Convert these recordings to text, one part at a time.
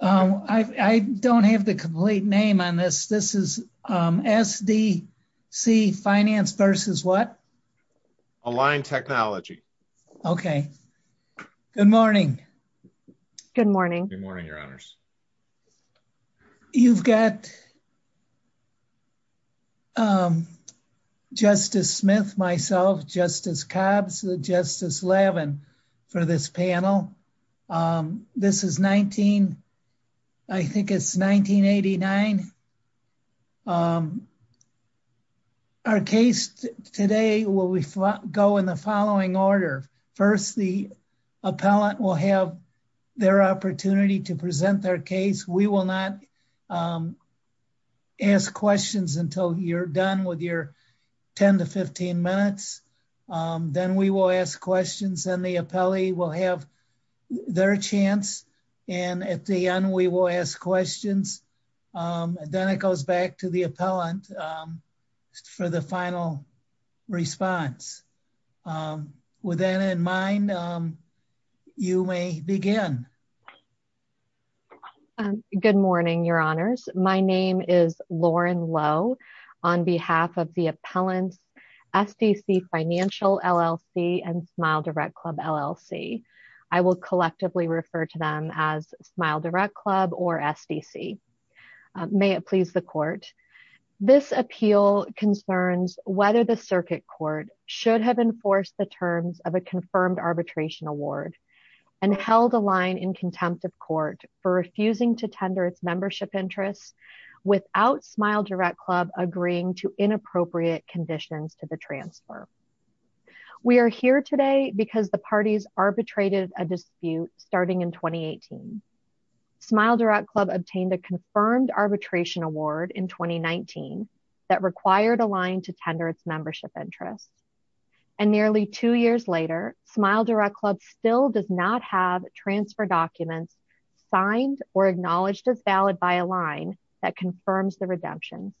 I don't have the complete name on this. This is SDC Finance versus what? Align Technology. Okay. Good morning. Good morning. Good morning, Your Honors. You've got Justice Smith, myself, Justice Cobbs, Justice Levin for this panel. This is 19, I think it's 1989. Our case today will go in the following order. First, the appellant will have their opportunity to present their case. We will not ask questions until you're done with your 10 to 15 minutes. Then we will ask questions and the appellee will have their chance. And at the end, we will ask questions. Then it goes back to the appellant for the final response. With that in mind, you may begin. Good morning, Your Honors. My name is Lauren Lowe on behalf of the appellants, SDC Financial LLC and Smile Direct Club LLC. I will collectively refer to them as Smile Direct Club or SDC. May it please the court. This appeal concerns whether the circuit court should have enforced the terms of a confirmed arbitration award and held a line in contempt of court for refusing to tender its membership interests without Smile Direct Club agreeing to inappropriate conditions to the transfer. We are here today because the parties arbitrated a dispute starting in 2018. Smile Direct Club obtained a confirmed arbitration award in 2019 that required a line to tender its membership interests. And nearly two years later, Smile Direct Club still does not have transfer documents signed or acknowledged as valid by a line that confirms the redemption.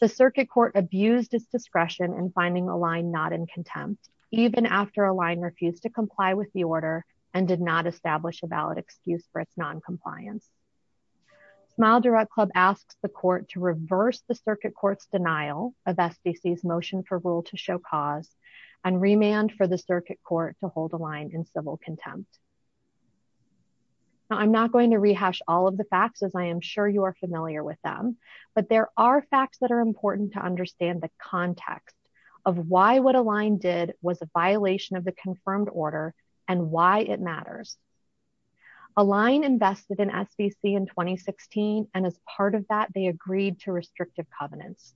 The circuit court abused its discretion in finding a line not in contempt, even after a line refused to comply with the order and did not establish a valid excuse for its noncompliance. Smile Direct Club asks the court to reverse the circuit court's denial of SDC's motion for rule to show cause and remand for the circuit court to hold a line in civil contempt. I'm not going to rehash all of the facts as I am sure you are familiar with them, but there are facts that are important to understand the context of why what a line did was a violation of the confirmed order and why it matters. A line invested in SDC in 2016 and as part of that they agreed to restrictive covenants.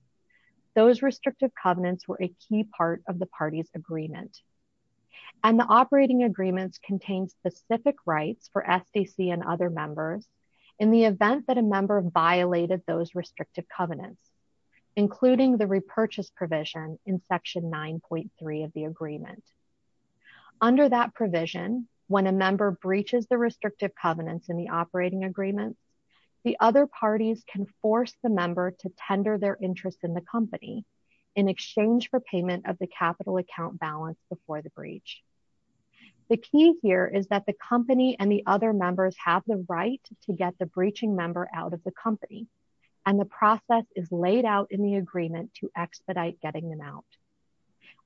Those restrictive covenants were a key part of the party's agreement. And the operating agreements contain specific rights for SDC and other members in the event that a member violated those restrictive covenants, including the repurchase provision in section 9.3 of the agreement. Under that provision, when a member breaches the restrictive covenants in the operating agreements, the other parties can force the member to tender their interest in the company in exchange for payment of the capital account balance before the breach. The key here is that the company and the other members have the right to get the breaching member out of the company, and the process is laid out in the agreement to expedite getting them out.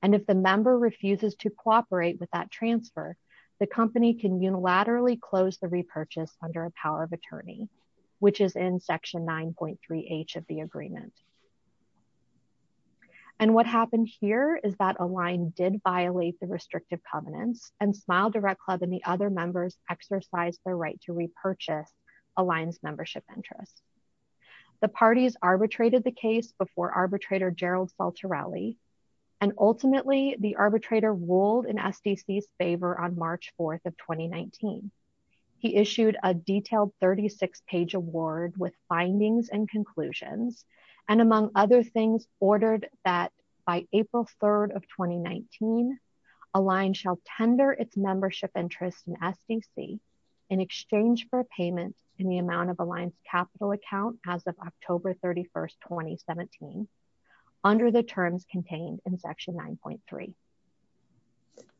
And if the member refuses to cooperate with that transfer, the company can unilaterally close the repurchase under a power of attorney, which is in section 9.3 H of the agreement. And what happened here is that a line did violate the restrictive covenants and Smile Direct Club and the other members exercise their right to repurchase a line's membership interest. The parties arbitrated the case before arbitrator Gerald Saltarelli, and ultimately the arbitrator ruled in SDC's favor on March 4 of 2019. He issued a detailed 36-page award with findings and conclusions, and among other things, ordered that by April 3 of 2019, a line shall tender its membership interest in SDC in exchange for payment in the amount of a line's capital account as of October 31, 2017, under the terms contained in section 9.3.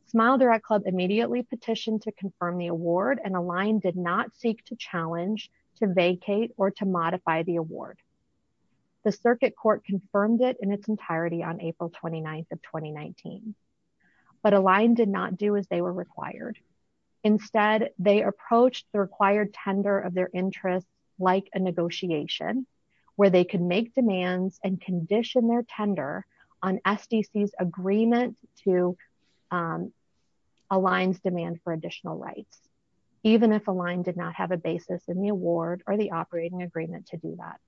Smile Direct Club immediately petitioned to confirm the award, and a line did not seek to challenge, to vacate, or to modify the award. The circuit court confirmed it in its entirety on April 29 of 2019, but a line did not do as they were required. Instead, they approached the required tender of their interest like a negotiation, where they could make demands and condition their tender on SDC's agreement to a line's demand for additional rights, even if a line did not have a basis in the award or the operating agreement to do that.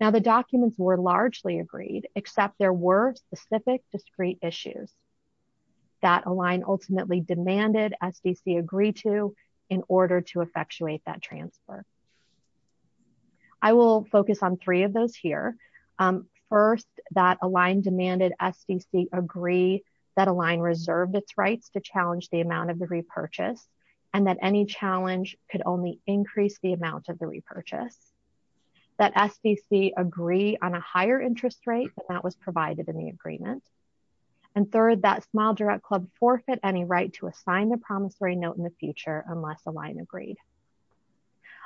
Now, the documents were largely agreed, except there were specific discrete issues that a line ultimately demanded SDC agree to in order to effectuate that transfer. I will focus on three of those here. First, that a line demanded SDC agree that a line reserved its rights to challenge the amount of the repurchase, and that any challenge could only increase the amount of the repurchase. That SDC agree on a higher interest rate than that was provided in the agreement. And third, that Smile Direct Club forfeit any right to assign the promissory note in the future unless a line agreed.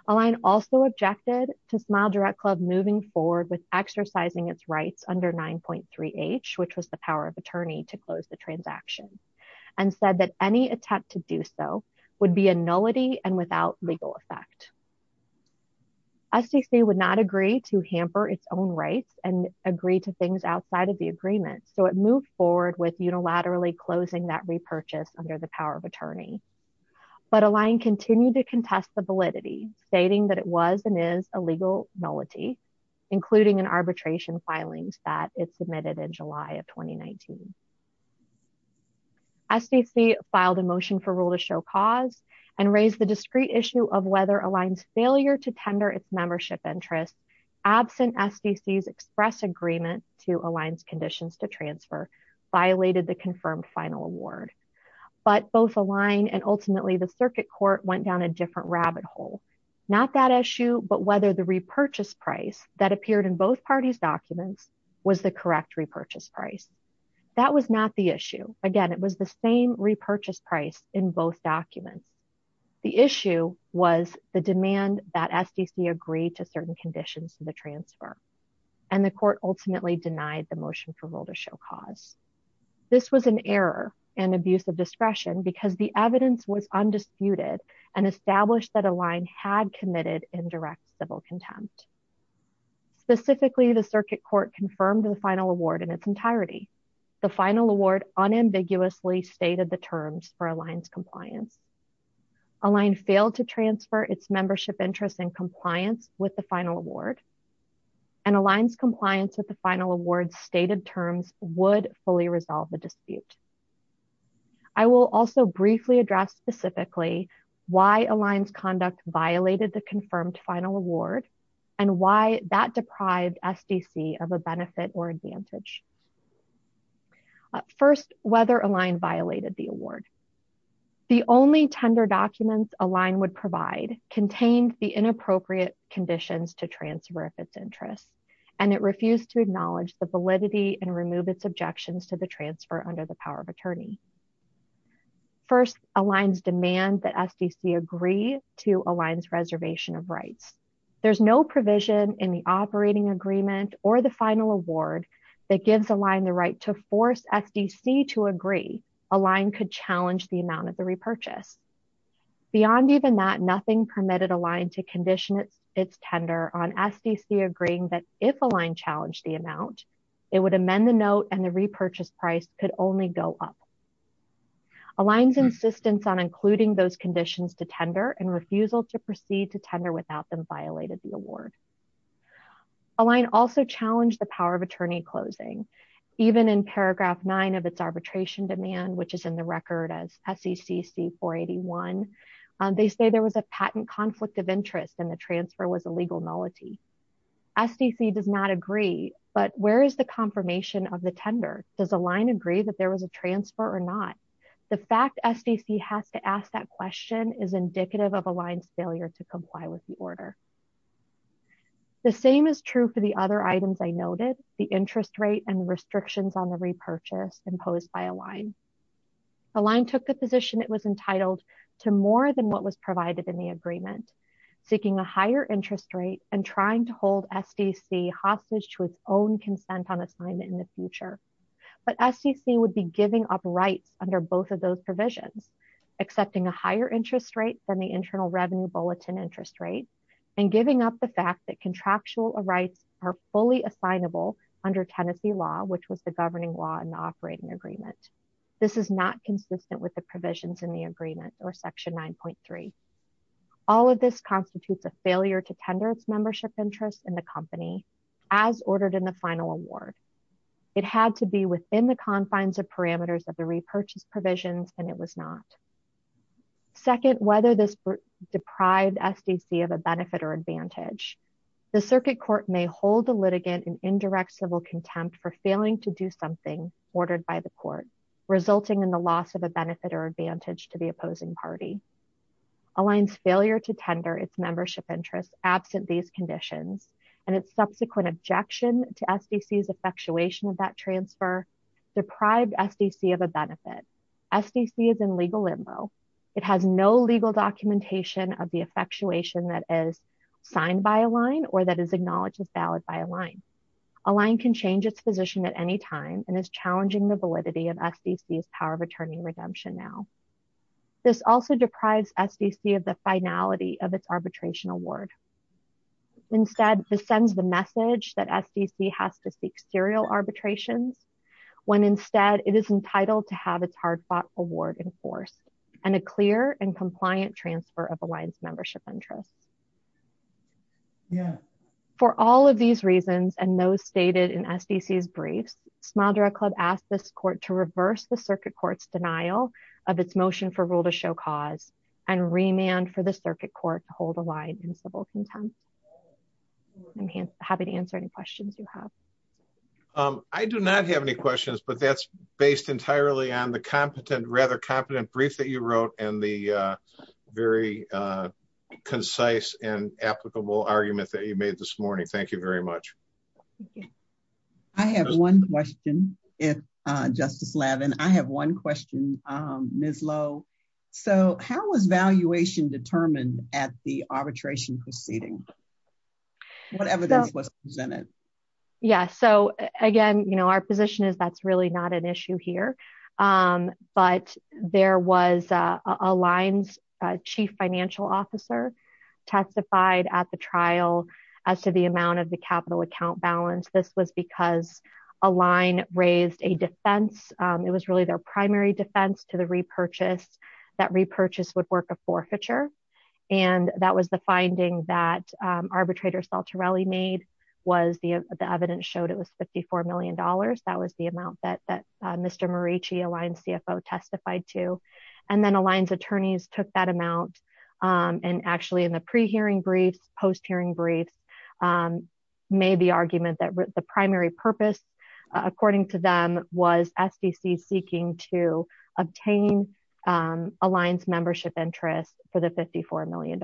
A line also objected to Smile Direct Club moving forward with exercising its rights under 9.3H, which was the power of attorney to close the transaction, and said that any attempt to do so would be a nullity and without legal effect. SDC would not agree to hamper its own rights and agree to things outside of the agreement, so it moved forward with unilaterally closing that repurchase under the power of attorney. But a line continued to contest the validity, stating that it was and is a legal nullity, including an arbitration filings that it submitted in July of 2019. SDC filed a motion for rule to show cause and raised the discrete issue of whether a line's failure to tender its membership interest, absent SDC's express agreement to a line's conditions to transfer, violated the confirmed final award. But both a line and ultimately the circuit court went down a different rabbit hole. Not that issue, but whether the repurchase price that appeared in both parties' documents was the correct repurchase price. That was not the issue. Again, it was the same repurchase price in both documents. The issue was the demand that SDC agreed to certain conditions for the transfer, and the court ultimately denied the motion for rule to show cause. This was an error and abuse of discretion because the evidence was undisputed and established that a line had committed indirect civil contempt. Specifically, the circuit court confirmed the final award in its entirety. The final award unambiguously stated the terms for a line's compliance. A line failed to transfer its membership interest in compliance with the final award, and a line's compliance with the final award's stated terms would fully resolve the dispute. I will also briefly address specifically why a line's conduct violated the confirmed final award and why that deprived SDC of a benefit or advantage. First, whether a line violated the award. The only tender documents a line would provide contained the inappropriate conditions to transfer of its interest, and it refused to acknowledge the validity and remove its objections to the transfer under the power of attorney. First, a line's demand that SDC agree to a line's reservation of rights. There's no provision in the operating agreement or the final award that gives a line the right to force SDC to agree a line could challenge the amount of the repurchase. Beyond even that, nothing permitted a line to condition its tender on SDC agreeing that if a line challenged the amount, it would amend the note and the repurchase price could only go up. A line's insistence on including those conditions to tender and refusal to proceed to tender without them violated the award. A line also challenged the power of attorney closing. Even in paragraph nine of its arbitration demand, which is in the record as SECC 481, they say there was a patent conflict of interest and the transfer was a legal nullity. SDC does not agree, but where is the confirmation of the tender? Does a line agree that there was a transfer or not? The fact SDC has to ask that question is indicative of a line's failure to comply with the order. The same is true for the other items I noted, the interest rate and restrictions on the repurchase imposed by a line. A line took the position it was entitled to more than what was provided in the agreement, seeking a higher interest rate and trying to hold SDC hostage to its own consent on assignment in the future. But SDC would be giving up rights under both of those provisions, accepting a higher interest rate than the Internal Revenue Bulletin interest rate, and giving up the fact that contractual rights are fully assignable under Tennessee law, which was the governing law in the operating agreement. This is not consistent with the provisions in the agreement or section 9.3. All of this constitutes a failure to tender its membership interest in the company as ordered in the final award. It had to be within the confines of parameters of the repurchase provisions, and it was not. Second, whether this deprived SDC of a benefit or advantage. The circuit court may hold the litigant in indirect civil contempt for failing to do something ordered by the court, resulting in the loss of a benefit or advantage to the opposing party. A line's failure to tender its membership interest absent these conditions and its subsequent objection to SDC's effectuation of that transfer deprived SDC of a benefit. SDC is in legal limbo. It has no legal documentation of the effectuation that is signed by a line or that is acknowledged as valid by a line. A line can change its position at any time and is challenging the validity of SDC's power of attorney redemption now. This also deprives SDC of the finality of its arbitration award. Instead, this sends the message that SDC has to seek serial arbitrations when instead it is entitled to have its hard fought award enforced and a clear and compliant transfer of a line's membership interest. Yeah. For all of these reasons, and those stated in SDC's briefs, Smadra Club asked this court to reverse the circuit court's denial of its motion for rule to show cause and remand for the circuit court to hold a line in civil contempt. I'm happy to answer any questions you have. I do not have any questions, but that's based entirely on the competent, rather competent brief that you wrote and the very concise and applicable argument that you made this morning. Thank you very much. I have one question, Justice Lavin. I have one question, Ms. Lowe. So, how was valuation determined at the arbitration proceeding? What evidence was presented? Yeah. So, again, you know, our position is that's really not an issue here. But there was a line's chief financial officer testified at the trial as to the amount of the capital account balance. This was because a line raised a defense. It was really their primary defense to the repurchase. That repurchase would work a forfeiture. And that was the finding that arbitrator Saltarelli made was the evidence showed it was $54 million. That was the amount that Mr. Marucci, a line CFO, testified to. And then a line's attorneys took that amount and actually in the pre-hearing briefs, post-hearing briefs, made the argument that the primary purpose, according to them, was SEC seeking to obtain a line's membership interest for the $54 million.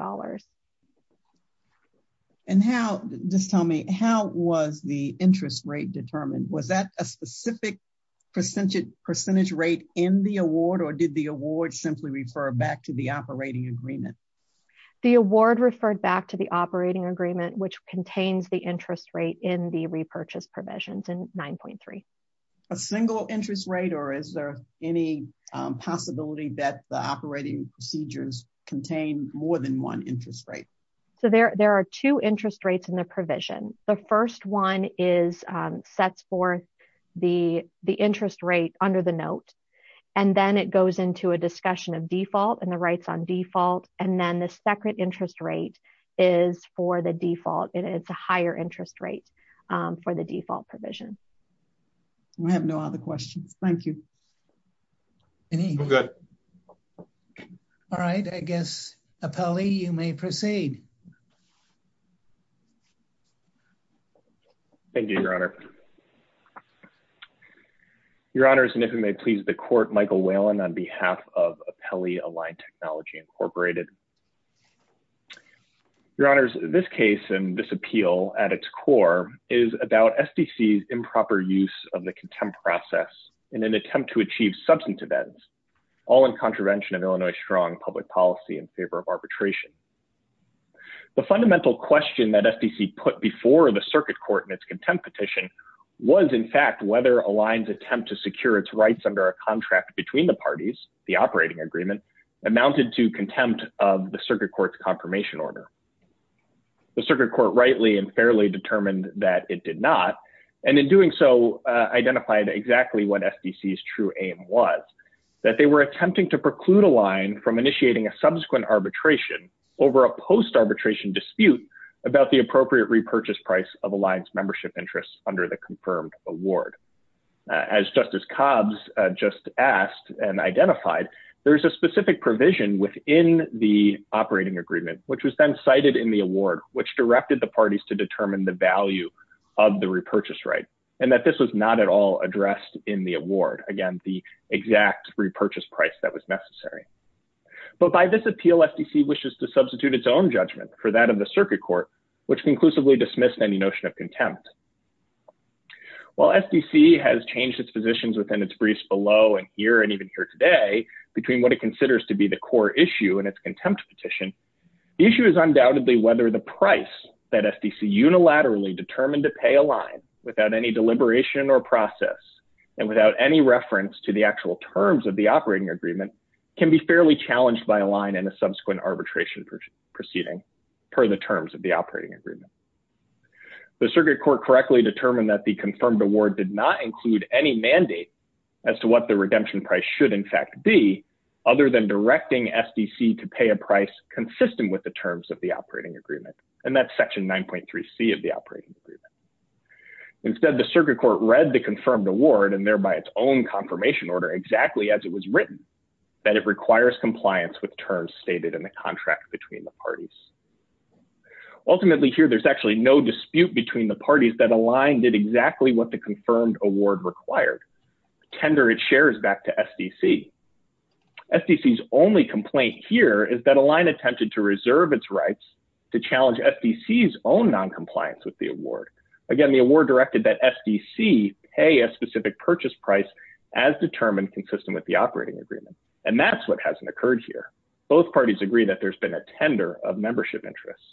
And how, just tell me, how was the interest rate determined? Was that a specific percentage rate in the award or did the award simply refer back to the operating agreement? The award referred back to the operating agreement, which contains the interest rate in the repurchase provisions in 9.3. A single interest rate or is there any possibility that the operating procedures contain more than one interest rate? So there are two interest rates in the provision. The first one sets forth the interest rate under the note. And then it goes into a discussion of default and the rights on default. And then the second interest rate is for the default. It's a higher interest rate for the default provision. I have no other questions. Thank you. Good. All right. I guess, Apelli, you may proceed. Thank you, Your Honor. Your Honors, and if it may please the court, Michael Whalen on behalf of Apelli Aligned Technology Incorporated. Your Honors, this case and this appeal at its core is about SDC's improper use of the contempt process in an attempt to achieve substantive ends, all in contravention of Illinois' strong public policy in favor of arbitration. The fundamental question that SDC put before the circuit court in its contempt petition was, in fact, whether Aligned's attempt to secure its rights under a contract between the parties, the operating agreement, amounted to contempt of the circuit court's confirmation order. The circuit court rightly and fairly determined that it did not. And in doing so, identified exactly what SDC's true aim was. That they were attempting to preclude Aligned from initiating a subsequent arbitration over a post-arbitration dispute about the appropriate repurchase price of Aligned's membership interests under the confirmed award. As Justice Cobbs just asked and identified, there's a specific provision within the operating agreement, which was then cited in the award, which directed the parties to determine the value of the repurchase right. And that this was not at all addressed in the award. Again, the exact repurchase price that was necessary. But by this appeal, SDC wishes to substitute its own judgment for that of the circuit court, which conclusively dismissed any notion of contempt. While SDC has changed its positions within its briefs below and here and even here today between what it considers to be the core issue and its contempt petition. The issue is undoubtedly whether the price that SDC unilaterally determined to pay Aligned without any deliberation or process. And without any reference to the actual terms of the operating agreement can be fairly challenged by Aligned in a subsequent arbitration proceeding per the terms of the operating agreement. The circuit court correctly determined that the confirmed award did not include any mandate. As to what the redemption price should in fact be other than directing SDC to pay a price consistent with the terms of the operating agreement and that section 9.3 C of the operating agreement. Instead, the circuit court read the confirmed award and thereby its own confirmation order exactly as it was written. That it requires compliance with terms stated in the contract between the parties. Ultimately, here there's actually no dispute between the parties that Aligned did exactly what the confirmed award required. Tender its shares back to SDC. SDC's only complaint here is that Aligned attempted to reserve its rights to challenge SDC's own non compliance with the award. Again, the award directed that SDC pay a specific purchase price as determined consistent with the operating agreement. And that's what hasn't occurred here. Both parties agree that there's been a tender of membership interests.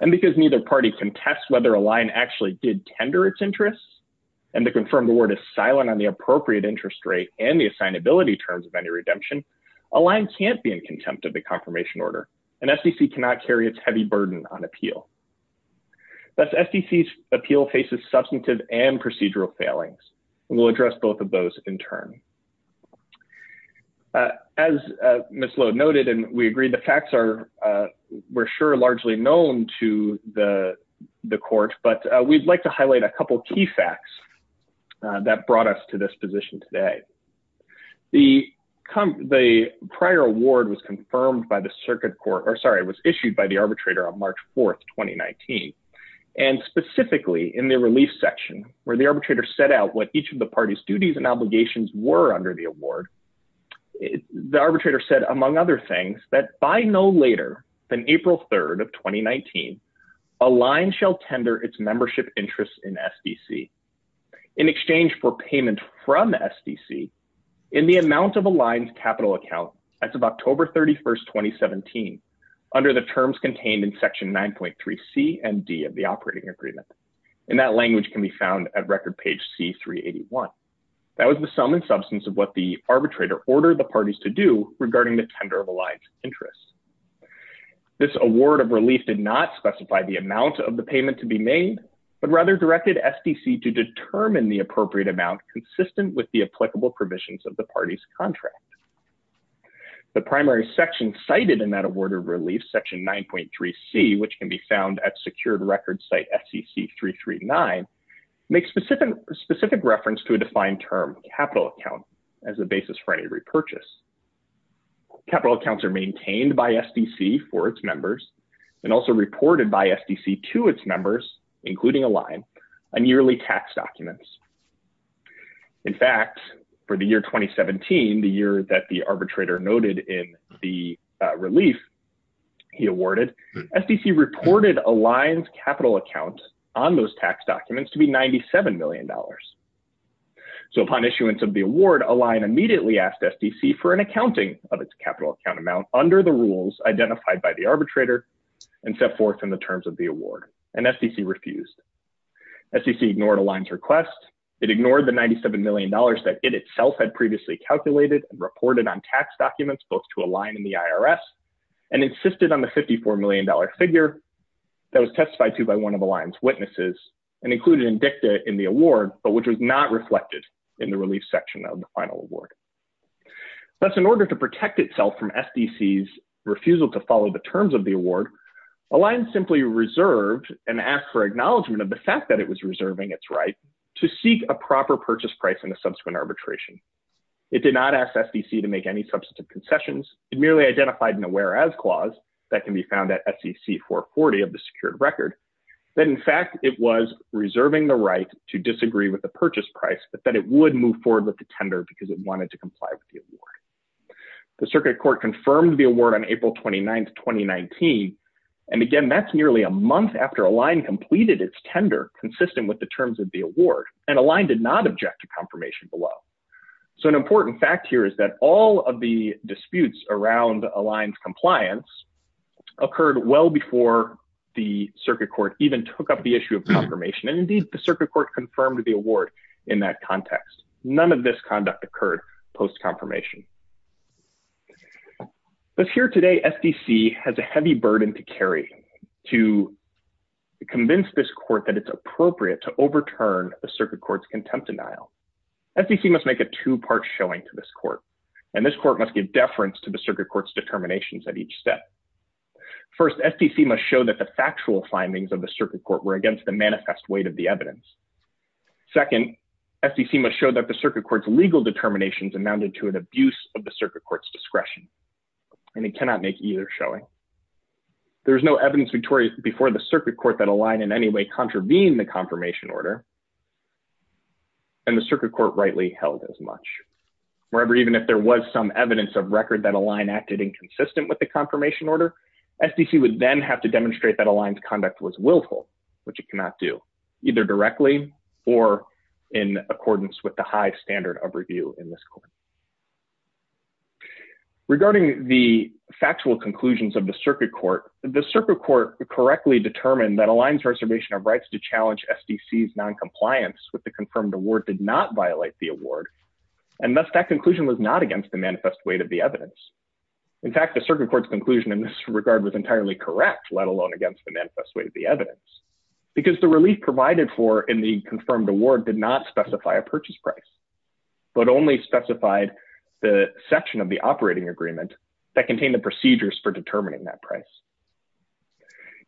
And because neither party can test whether Aligned actually did tender its interests and the confirmed award is silent on the appropriate interest rate and the assignability terms of any redemption. Aligned can't be in contempt of the confirmation order and SDC cannot carry its heavy burden on appeal. Thus, SDC's appeal faces substantive and procedural failings. We'll address both of those in turn. As Ms. Lowe noted, and we agree the facts are, we're sure, largely known to the court, but we'd like to highlight a couple key facts. That brought us to this position today. The prior award was confirmed by the circuit court, or sorry, was issued by the arbitrator on March 4, 2019. And specifically in the relief section where the arbitrator set out what each of the parties duties and obligations were under the award. The arbitrator said, among other things, that by no later than April 3, 2019, Aligned shall tender its membership interests in SDC. In exchange for payment from SDC, in the amount of Aligned's capital account as of October 31, 2017, under the terms contained in section 9.3C and D of the operating agreement. And that language can be found at record page C381. That was the sum and substance of what the arbitrator ordered the parties to do regarding the tender of Aligned's interests. This award of relief did not specify the amount of the payment to be made, but rather directed SDC to determine the appropriate amount consistent with the applicable provisions of the parties contract. The primary section cited in that award of relief, section 9.3C, which can be found at secured record site FCC 339, makes specific reference to a defined term, capital account, as a basis for any repurchase. Capital accounts are maintained by SDC for its members and also reported by SDC to its members, including Aligned, on yearly tax documents. In fact, for the year 2017, the year that the arbitrator noted in the relief he awarded, SDC reported Aligned's capital account on those tax documents to be $97 million. So upon issuance of the award, Aligned immediately asked SDC for an accounting of its capital account amount under the rules identified by the arbitrator and set forth in the terms of the award, and SDC refused. SDC ignored Aligned's request. It ignored the $97 million that it itself had previously calculated and reported on tax documents both to Aligned and the IRS, and insisted on the $54 million figure that was testified to by one of Aligned's witnesses and included in dicta in the award, but which was not reflected in the relief section of the final award. Thus, in order to protect itself from SDC's refusal to follow the terms of the award, Aligned simply reserved and asked for acknowledgement of the fact that it was reserving its right to seek a proper purchase price in a subsequent arbitration. It did not ask SDC to make any substantive concessions. It merely identified an aware-as clause that can be found at SEC 440 of the secured record that, in fact, it was reserving the right to disagree with the purchase price, but that it would move forward with the tender because it wanted to comply with the award. The Circuit Court confirmed the award on April 29, 2019, and again, that's nearly a month after Aligned completed its tender consistent with the terms of the award, and Aligned did not object to confirmation below. So an important fact here is that all of the disputes around Aligned's compliance occurred well before the Circuit Court even took up the issue of confirmation, and indeed, the Circuit Court confirmed the award in that context. None of this conduct occurred post-confirmation. As here today, SDC has a heavy burden to carry to convince this court that it's appropriate to overturn the Circuit Court's contempt denial. SDC must make a two-part showing to this court, and this court must give deference to the Circuit Court's determinations at each step. First, SDC must show that the factual findings of the Circuit Court were against the manifest weight of the evidence. Second, SDC must show that the Circuit Court's legal determinations amounted to an abuse of the Circuit Court's discretion, and it cannot make either showing. There is no evidence before the Circuit Court that Aligned in any way contravened the confirmation order, and the Circuit Court rightly held as much. Moreover, even if there was some evidence of record that Aligned acted inconsistent with the confirmation order, SDC would then have to demonstrate that Aligned's conduct was willful, which it cannot do, either directly or in accordance with the high standard of review in this court. Regarding the factual conclusions of the Circuit Court, the Circuit Court correctly determined that Aligned's reservation of rights to challenge SDC's noncompliance with the confirmed award did not violate the award, and thus that conclusion was not against the manifest weight of the evidence. In fact, the Circuit Court's conclusion in this regard was entirely correct, let alone against the manifest weight of the evidence, because the relief provided for in the confirmed award did not specify a purchase price, but only specified the section of the operating agreement that contained the procedures for determining that price.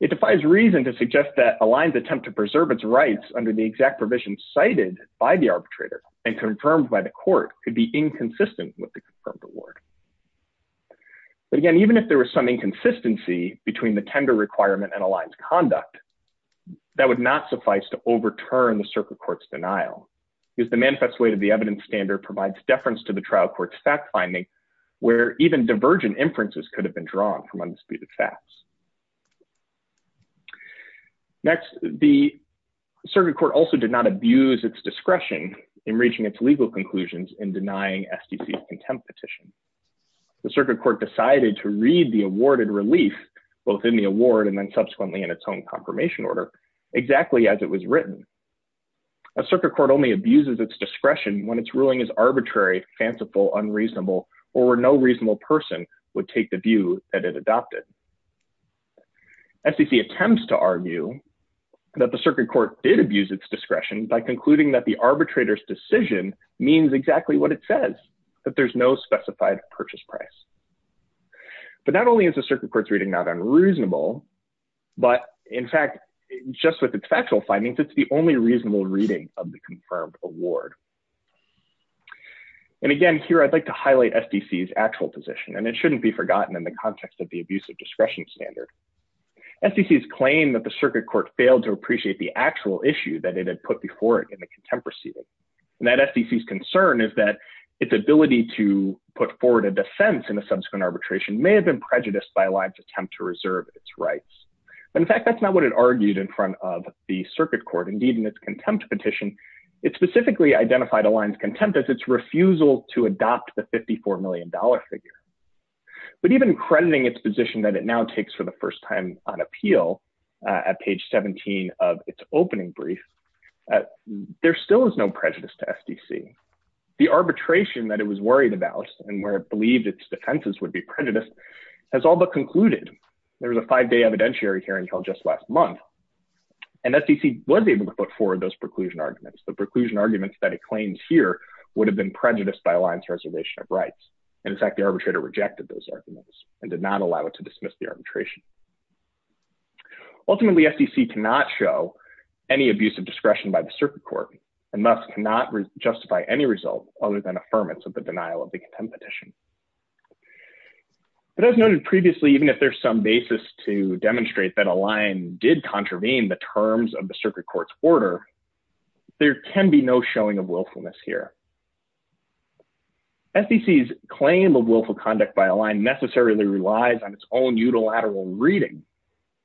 It defies reason to suggest that Aligned's attempt to preserve its rights under the exact provisions cited by the arbitrator and confirmed by the court could be inconsistent with the confirmed award. But again, even if there was some inconsistency between the tender requirement and Aligned's conduct, that would not suffice to overturn the Circuit Court's denial, because the manifest weight of the evidence standard provides deference to the trial court's fact-finding, where even divergent inferences could have been drawn from unspecified facts. Next, the Circuit Court also did not abuse its discretion in reaching its legal conclusions in denying SDC's contempt petition. The Circuit Court decided to read the awarded relief, both in the award and then subsequently in its own confirmation order, exactly as it was written. A Circuit Court only abuses its discretion when its ruling is arbitrary, fanciful, unreasonable, or where no reasonable person would take the view that it adopted. SDC attempts to argue that the Circuit Court did abuse its discretion by concluding that the arbitrator's decision means exactly what it says, that there's no specified purchase price. But not only is the Circuit Court's reading not unreasonable, but in fact, just with its factual findings, it's the only reasonable reading of the confirmed award. And again, here, I'd like to highlight SDC's actual position, and it shouldn't be forgotten in the context of the abuse of discretion standard. SDC's claim that the Circuit Court failed to appreciate the actual issue that it had put before it in the contempt proceeding, and that SDC's concern is that its ability to put forward a defense in a subsequent arbitration may have been prejudiced by Aligned's attempt to reserve its rights. But in fact, that's not what it argued in front of the Circuit Court. Indeed, in its contempt petition, it specifically identified Aligned's contempt as its refusal to adopt the $54 million figure. But even crediting its position that it now takes for the first time on appeal at page 17 of its opening brief, there still is no prejudice to SDC. The arbitration that it was worried about, and where it believed its defenses would be prejudiced, has all but concluded. There was a five-day evidentiary hearing held just last month, and SDC was able to put forward those preclusion arguments. The preclusion arguments that it claims here would have been prejudiced by Aligned's reservation of rights. In fact, the arbitrator rejected those arguments and did not allow it to dismiss the arbitration. Ultimately, SDC cannot show any abuse of discretion by the Circuit Court, and thus cannot justify any result other than affirmance of the denial of the contempt petition. But as noted previously, even if there's some basis to demonstrate that Aligned did contravene the terms of the Circuit Court's order, there can be no showing of willfulness here. SDC's claim of willful conduct by Aligned necessarily relies on its own unilateral reading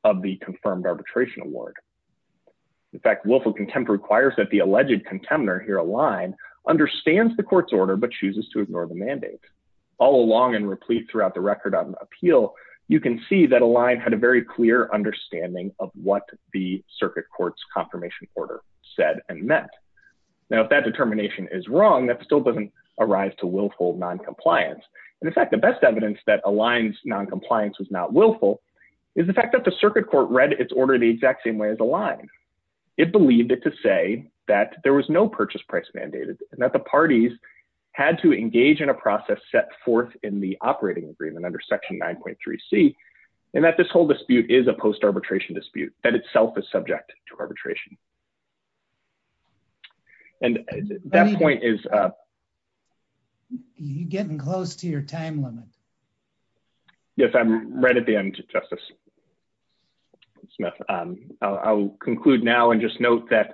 of the confirmed arbitration award. In fact, willful contempt requires that the alleged contemner here, Aligned, understands the Court's order but chooses to ignore the mandate. All along and replete throughout the record on appeal, you can see that Aligned had a very clear understanding of what the Circuit Court's confirmation order said and meant. Now, if that determination is wrong, that still doesn't arise to willful noncompliance. In fact, the best evidence that Aligned's noncompliance was not willful is the fact that the Circuit Court read its order the exact same way as Aligned. It believed it to say that there was no purchase price mandated, and that the parties had to engage in a process set forth in the operating agreement under Section 9.3c, and that this whole dispute is a post-arbitration dispute that itself is subject to arbitration. And that point is... You're getting close to your time limit. Yes, I'm right at the end, Justice Smith. I will conclude now and just note that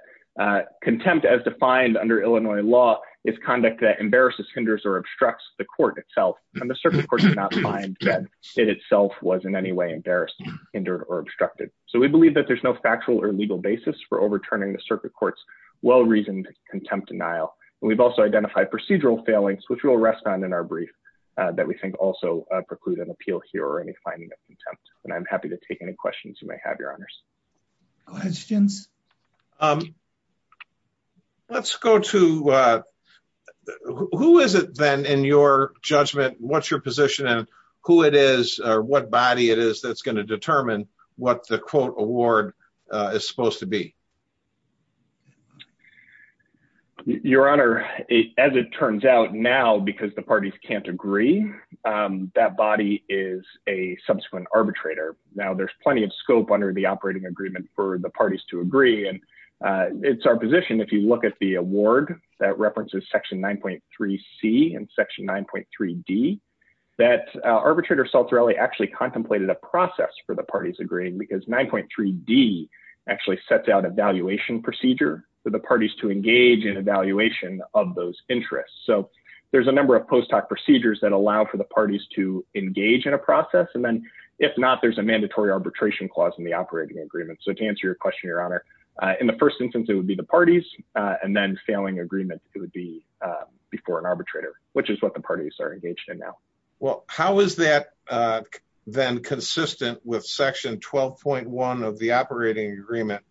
contempt as defined under Illinois law is conduct that embarrasses, hinders, or obstructs the Court itself, and the Circuit Court did not find that it itself was in any way embarrassed, hindered, or obstructed. So we believe that there's no factual or legal basis for overturning the Circuit Court's well-reasoned contempt denial. And we've also identified procedural failings, which we'll rest on in our brief, that we think also preclude an appeal here or any finding of contempt. And I'm happy to take any questions you may have, Your Honors. Questions? Let's go to... Who is it, then, in your judgment, what's your position, and who it is or what body it is that's going to determine what the quote award is supposed to be? Your Honor, as it turns out now, because the parties can't agree, that body is a subsequent arbitrator. Now, there's plenty of scope under the operating agreement for the parties to agree. It's our position, if you look at the award that references Section 9.3C and Section 9.3D, that arbitrator Saltorelli actually contemplated a process for the parties agreeing, because 9.3D actually sets out a valuation procedure for the parties to engage in evaluation of those interests. So there's a number of post hoc procedures that allow for the parties to engage in a process, and then, if not, there's a mandatory arbitration clause in the operating agreement. So to answer your question, Your Honor, in the first instance, it would be the parties, and then, failing agreement, it would be before an arbitrator, which is what the parties are engaged in now. Well, how is that then consistent with Section 12.1 of the operating agreement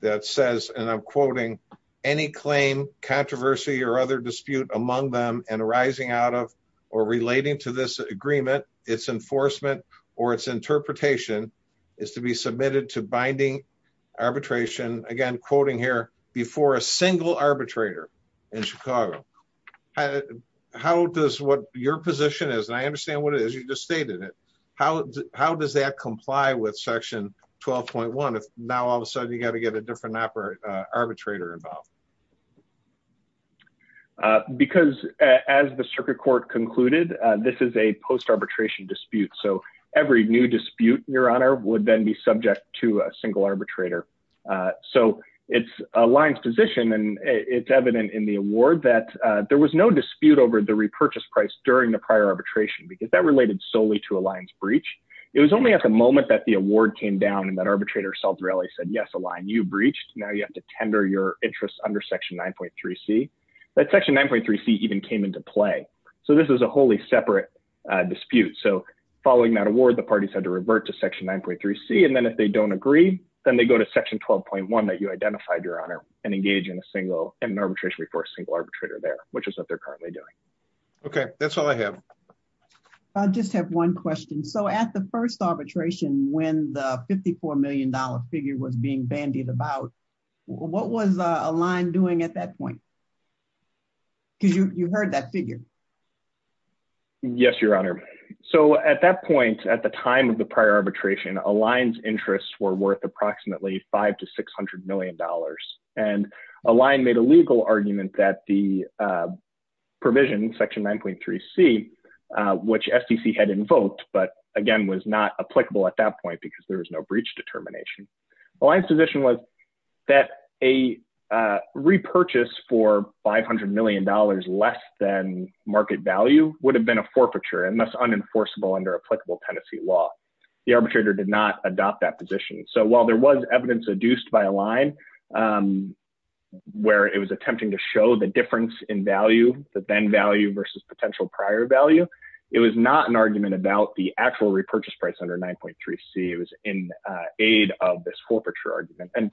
that says, and I'm quoting, any claim, controversy, or other dispute among them and arising out of or relating to this agreement, its enforcement, or its interpretation, is to be submitted to binding arbitration, again, quoting here, before a single arbitrator in Chicago? How does what your position is, and I understand what it is, you just stated it, how does that comply with Section 12.1, if now, all of a sudden, you've got to get a different arbitrator involved? Because, as the Circuit Court concluded, this is a post-arbitration dispute, so every new dispute, Your Honor, would then be subject to a single arbitrator. So it's a line's position, and it's evident in the award that there was no dispute over the repurchase price during the prior arbitration, because that related solely to a line's breach. It was only at the moment that the award came down and that arbitrator self-really said, yes, a line you breached, now you have to tender your interests under Section 9.3c, that Section 9.3c even came into play. So this is a wholly separate dispute. So following that award, the parties had to revert to Section 9.3c, and then if they don't agree, then they go to Section 12.1 that you identified, Your Honor, and engage in a single, in an arbitration before a single arbitrator there, which is what they're currently doing. Okay, that's all I have. I just have one question. So at the first arbitration, when the $54 million figure was being bandied about, what was Align doing at that point? Because you heard that figure. Yes, Your Honor. So at that point, at the time of the prior arbitration, Align's interests were worth approximately $500 million to $600 million. And Align made a legal argument that the provision, Section 9.3c, which SDC had invoked, but again was not applicable at that point because there was no breach determination. Align's position was that a repurchase for $500 million less than market value would have been a forfeiture and thus unenforceable under applicable tenancy law. The arbitrator did not adopt that position. So while there was evidence adduced by Align where it was attempting to show the difference in value, the then value versus potential prior value, it was not an argument about the actual repurchase price under 9.3c. It was in aid of this forfeiture argument. And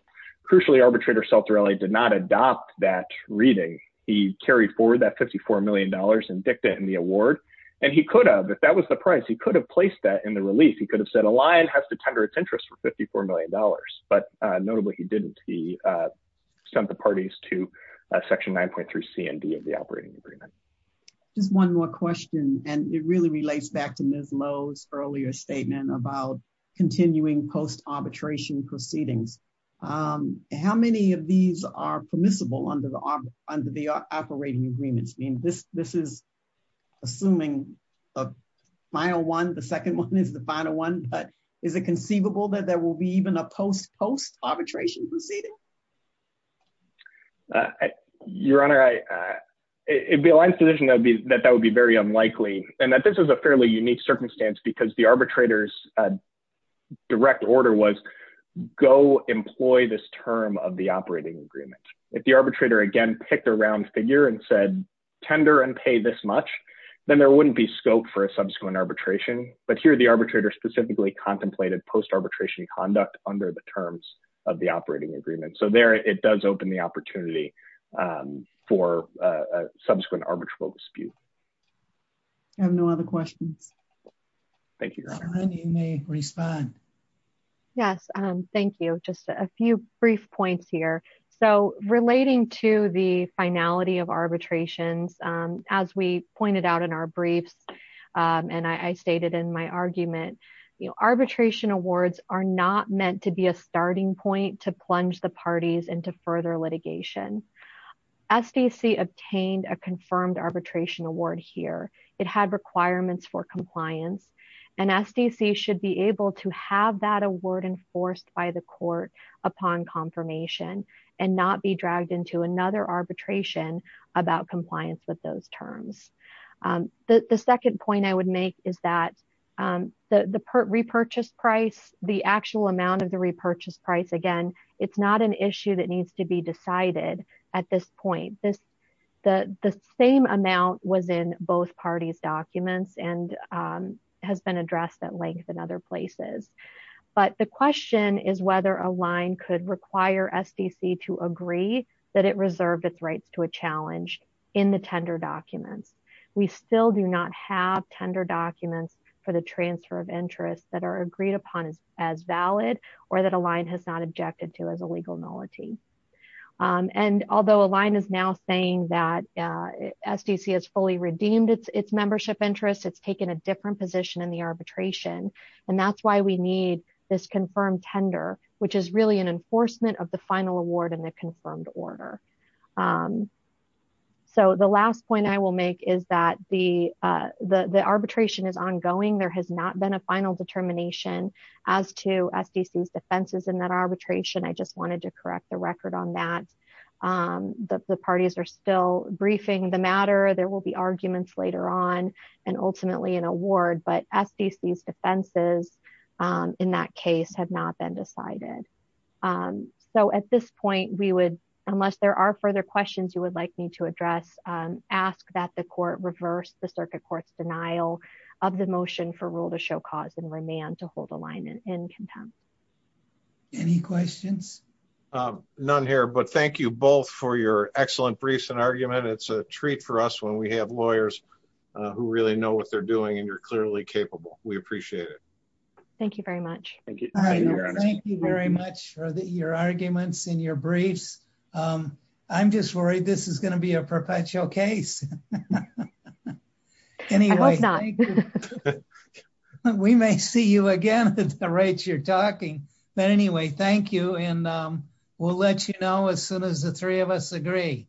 crucially, arbitrator Saltarelli did not adopt that reading. He carried forward that $54 million in dicta in the award. And he could have, if that was the price, he could have placed that in the release. He could have said Align has to tender its interest for $54 million. But notably, he didn't. He sent the parties to Section 9.3c and D of the operating agreement. Just one more question. And it really relates back to Ms. Lowe's earlier statement about continuing post-arbitration proceedings. How many of these are permissible under the operating agreements? I mean, this is assuming a final one. The second one is the final one. But is it conceivable that there will be even a post-post-arbitration proceeding? Your Honor, it would be Align's position that that would be very unlikely and that this is a fairly unique circumstance because the arbitrator's direct order was go employ this term of the operating agreement. If the arbitrator, again, picked a round figure and said tender and pay this much, then there wouldn't be scope for a subsequent arbitration. But here the arbitrator specifically contemplated post-arbitration conduct under the terms of the operating agreement. So there it does open the opportunity for subsequent arbitral dispute. I have no other questions. Thank you, Your Honor. Sonny may respond. Yes. Thank you. Just a few brief points here. So relating to the finality of arbitrations, as we pointed out in our briefs and I stated in my argument, arbitration awards are not meant to be a starting point to plunge the parties into further litigation. SDC obtained a confirmed arbitration award here. It had requirements for compliance and SDC should be able to have that award enforced by the court upon confirmation and not be dragged into another arbitration about compliance with those terms. The second point I would make is that the repurchase price, the actual amount of the repurchase price, again, it's not an issue that needs to be decided at this point. The same amount was in both parties' documents and has been addressed at length in other places. But the question is whether a line could require SDC to agree that it reserved its rights to a challenge in the tender documents. We still do not have tender documents for the transfer of interest that are agreed upon as valid or that a line has not objected to as a legal nullity. And although a line is now saying that SDC has fully redeemed its membership interest, it's taken a different position in the arbitration, and that's why we need this confirmed tender, which is really an enforcement of the final award in the confirmed order. So the last point I will make is that the arbitration is ongoing. There has not been a final determination as to SDC's defenses in that arbitration. I just wanted to correct the record on that. The parties are still briefing the matter. There will be arguments later on and ultimately an award, but SDC's defenses in that case have not been decided. So at this point, unless there are further questions you would like me to address, ask that the court reverse the circuit court's denial of the motion for rule to show cause and remand to hold a line in contempt. Any questions? None here, but thank you both for your excellent briefs and argument. It's a treat for us when we have lawyers who really know what they're doing and you're clearly capable. We appreciate it. Thank you very much. Thank you very much for your arguments and your briefs. I'm just worried this is going to be a perpetual case. We may see you again at the rate you're talking. But anyway, thank you, and we'll let you know as soon as the three of us agree.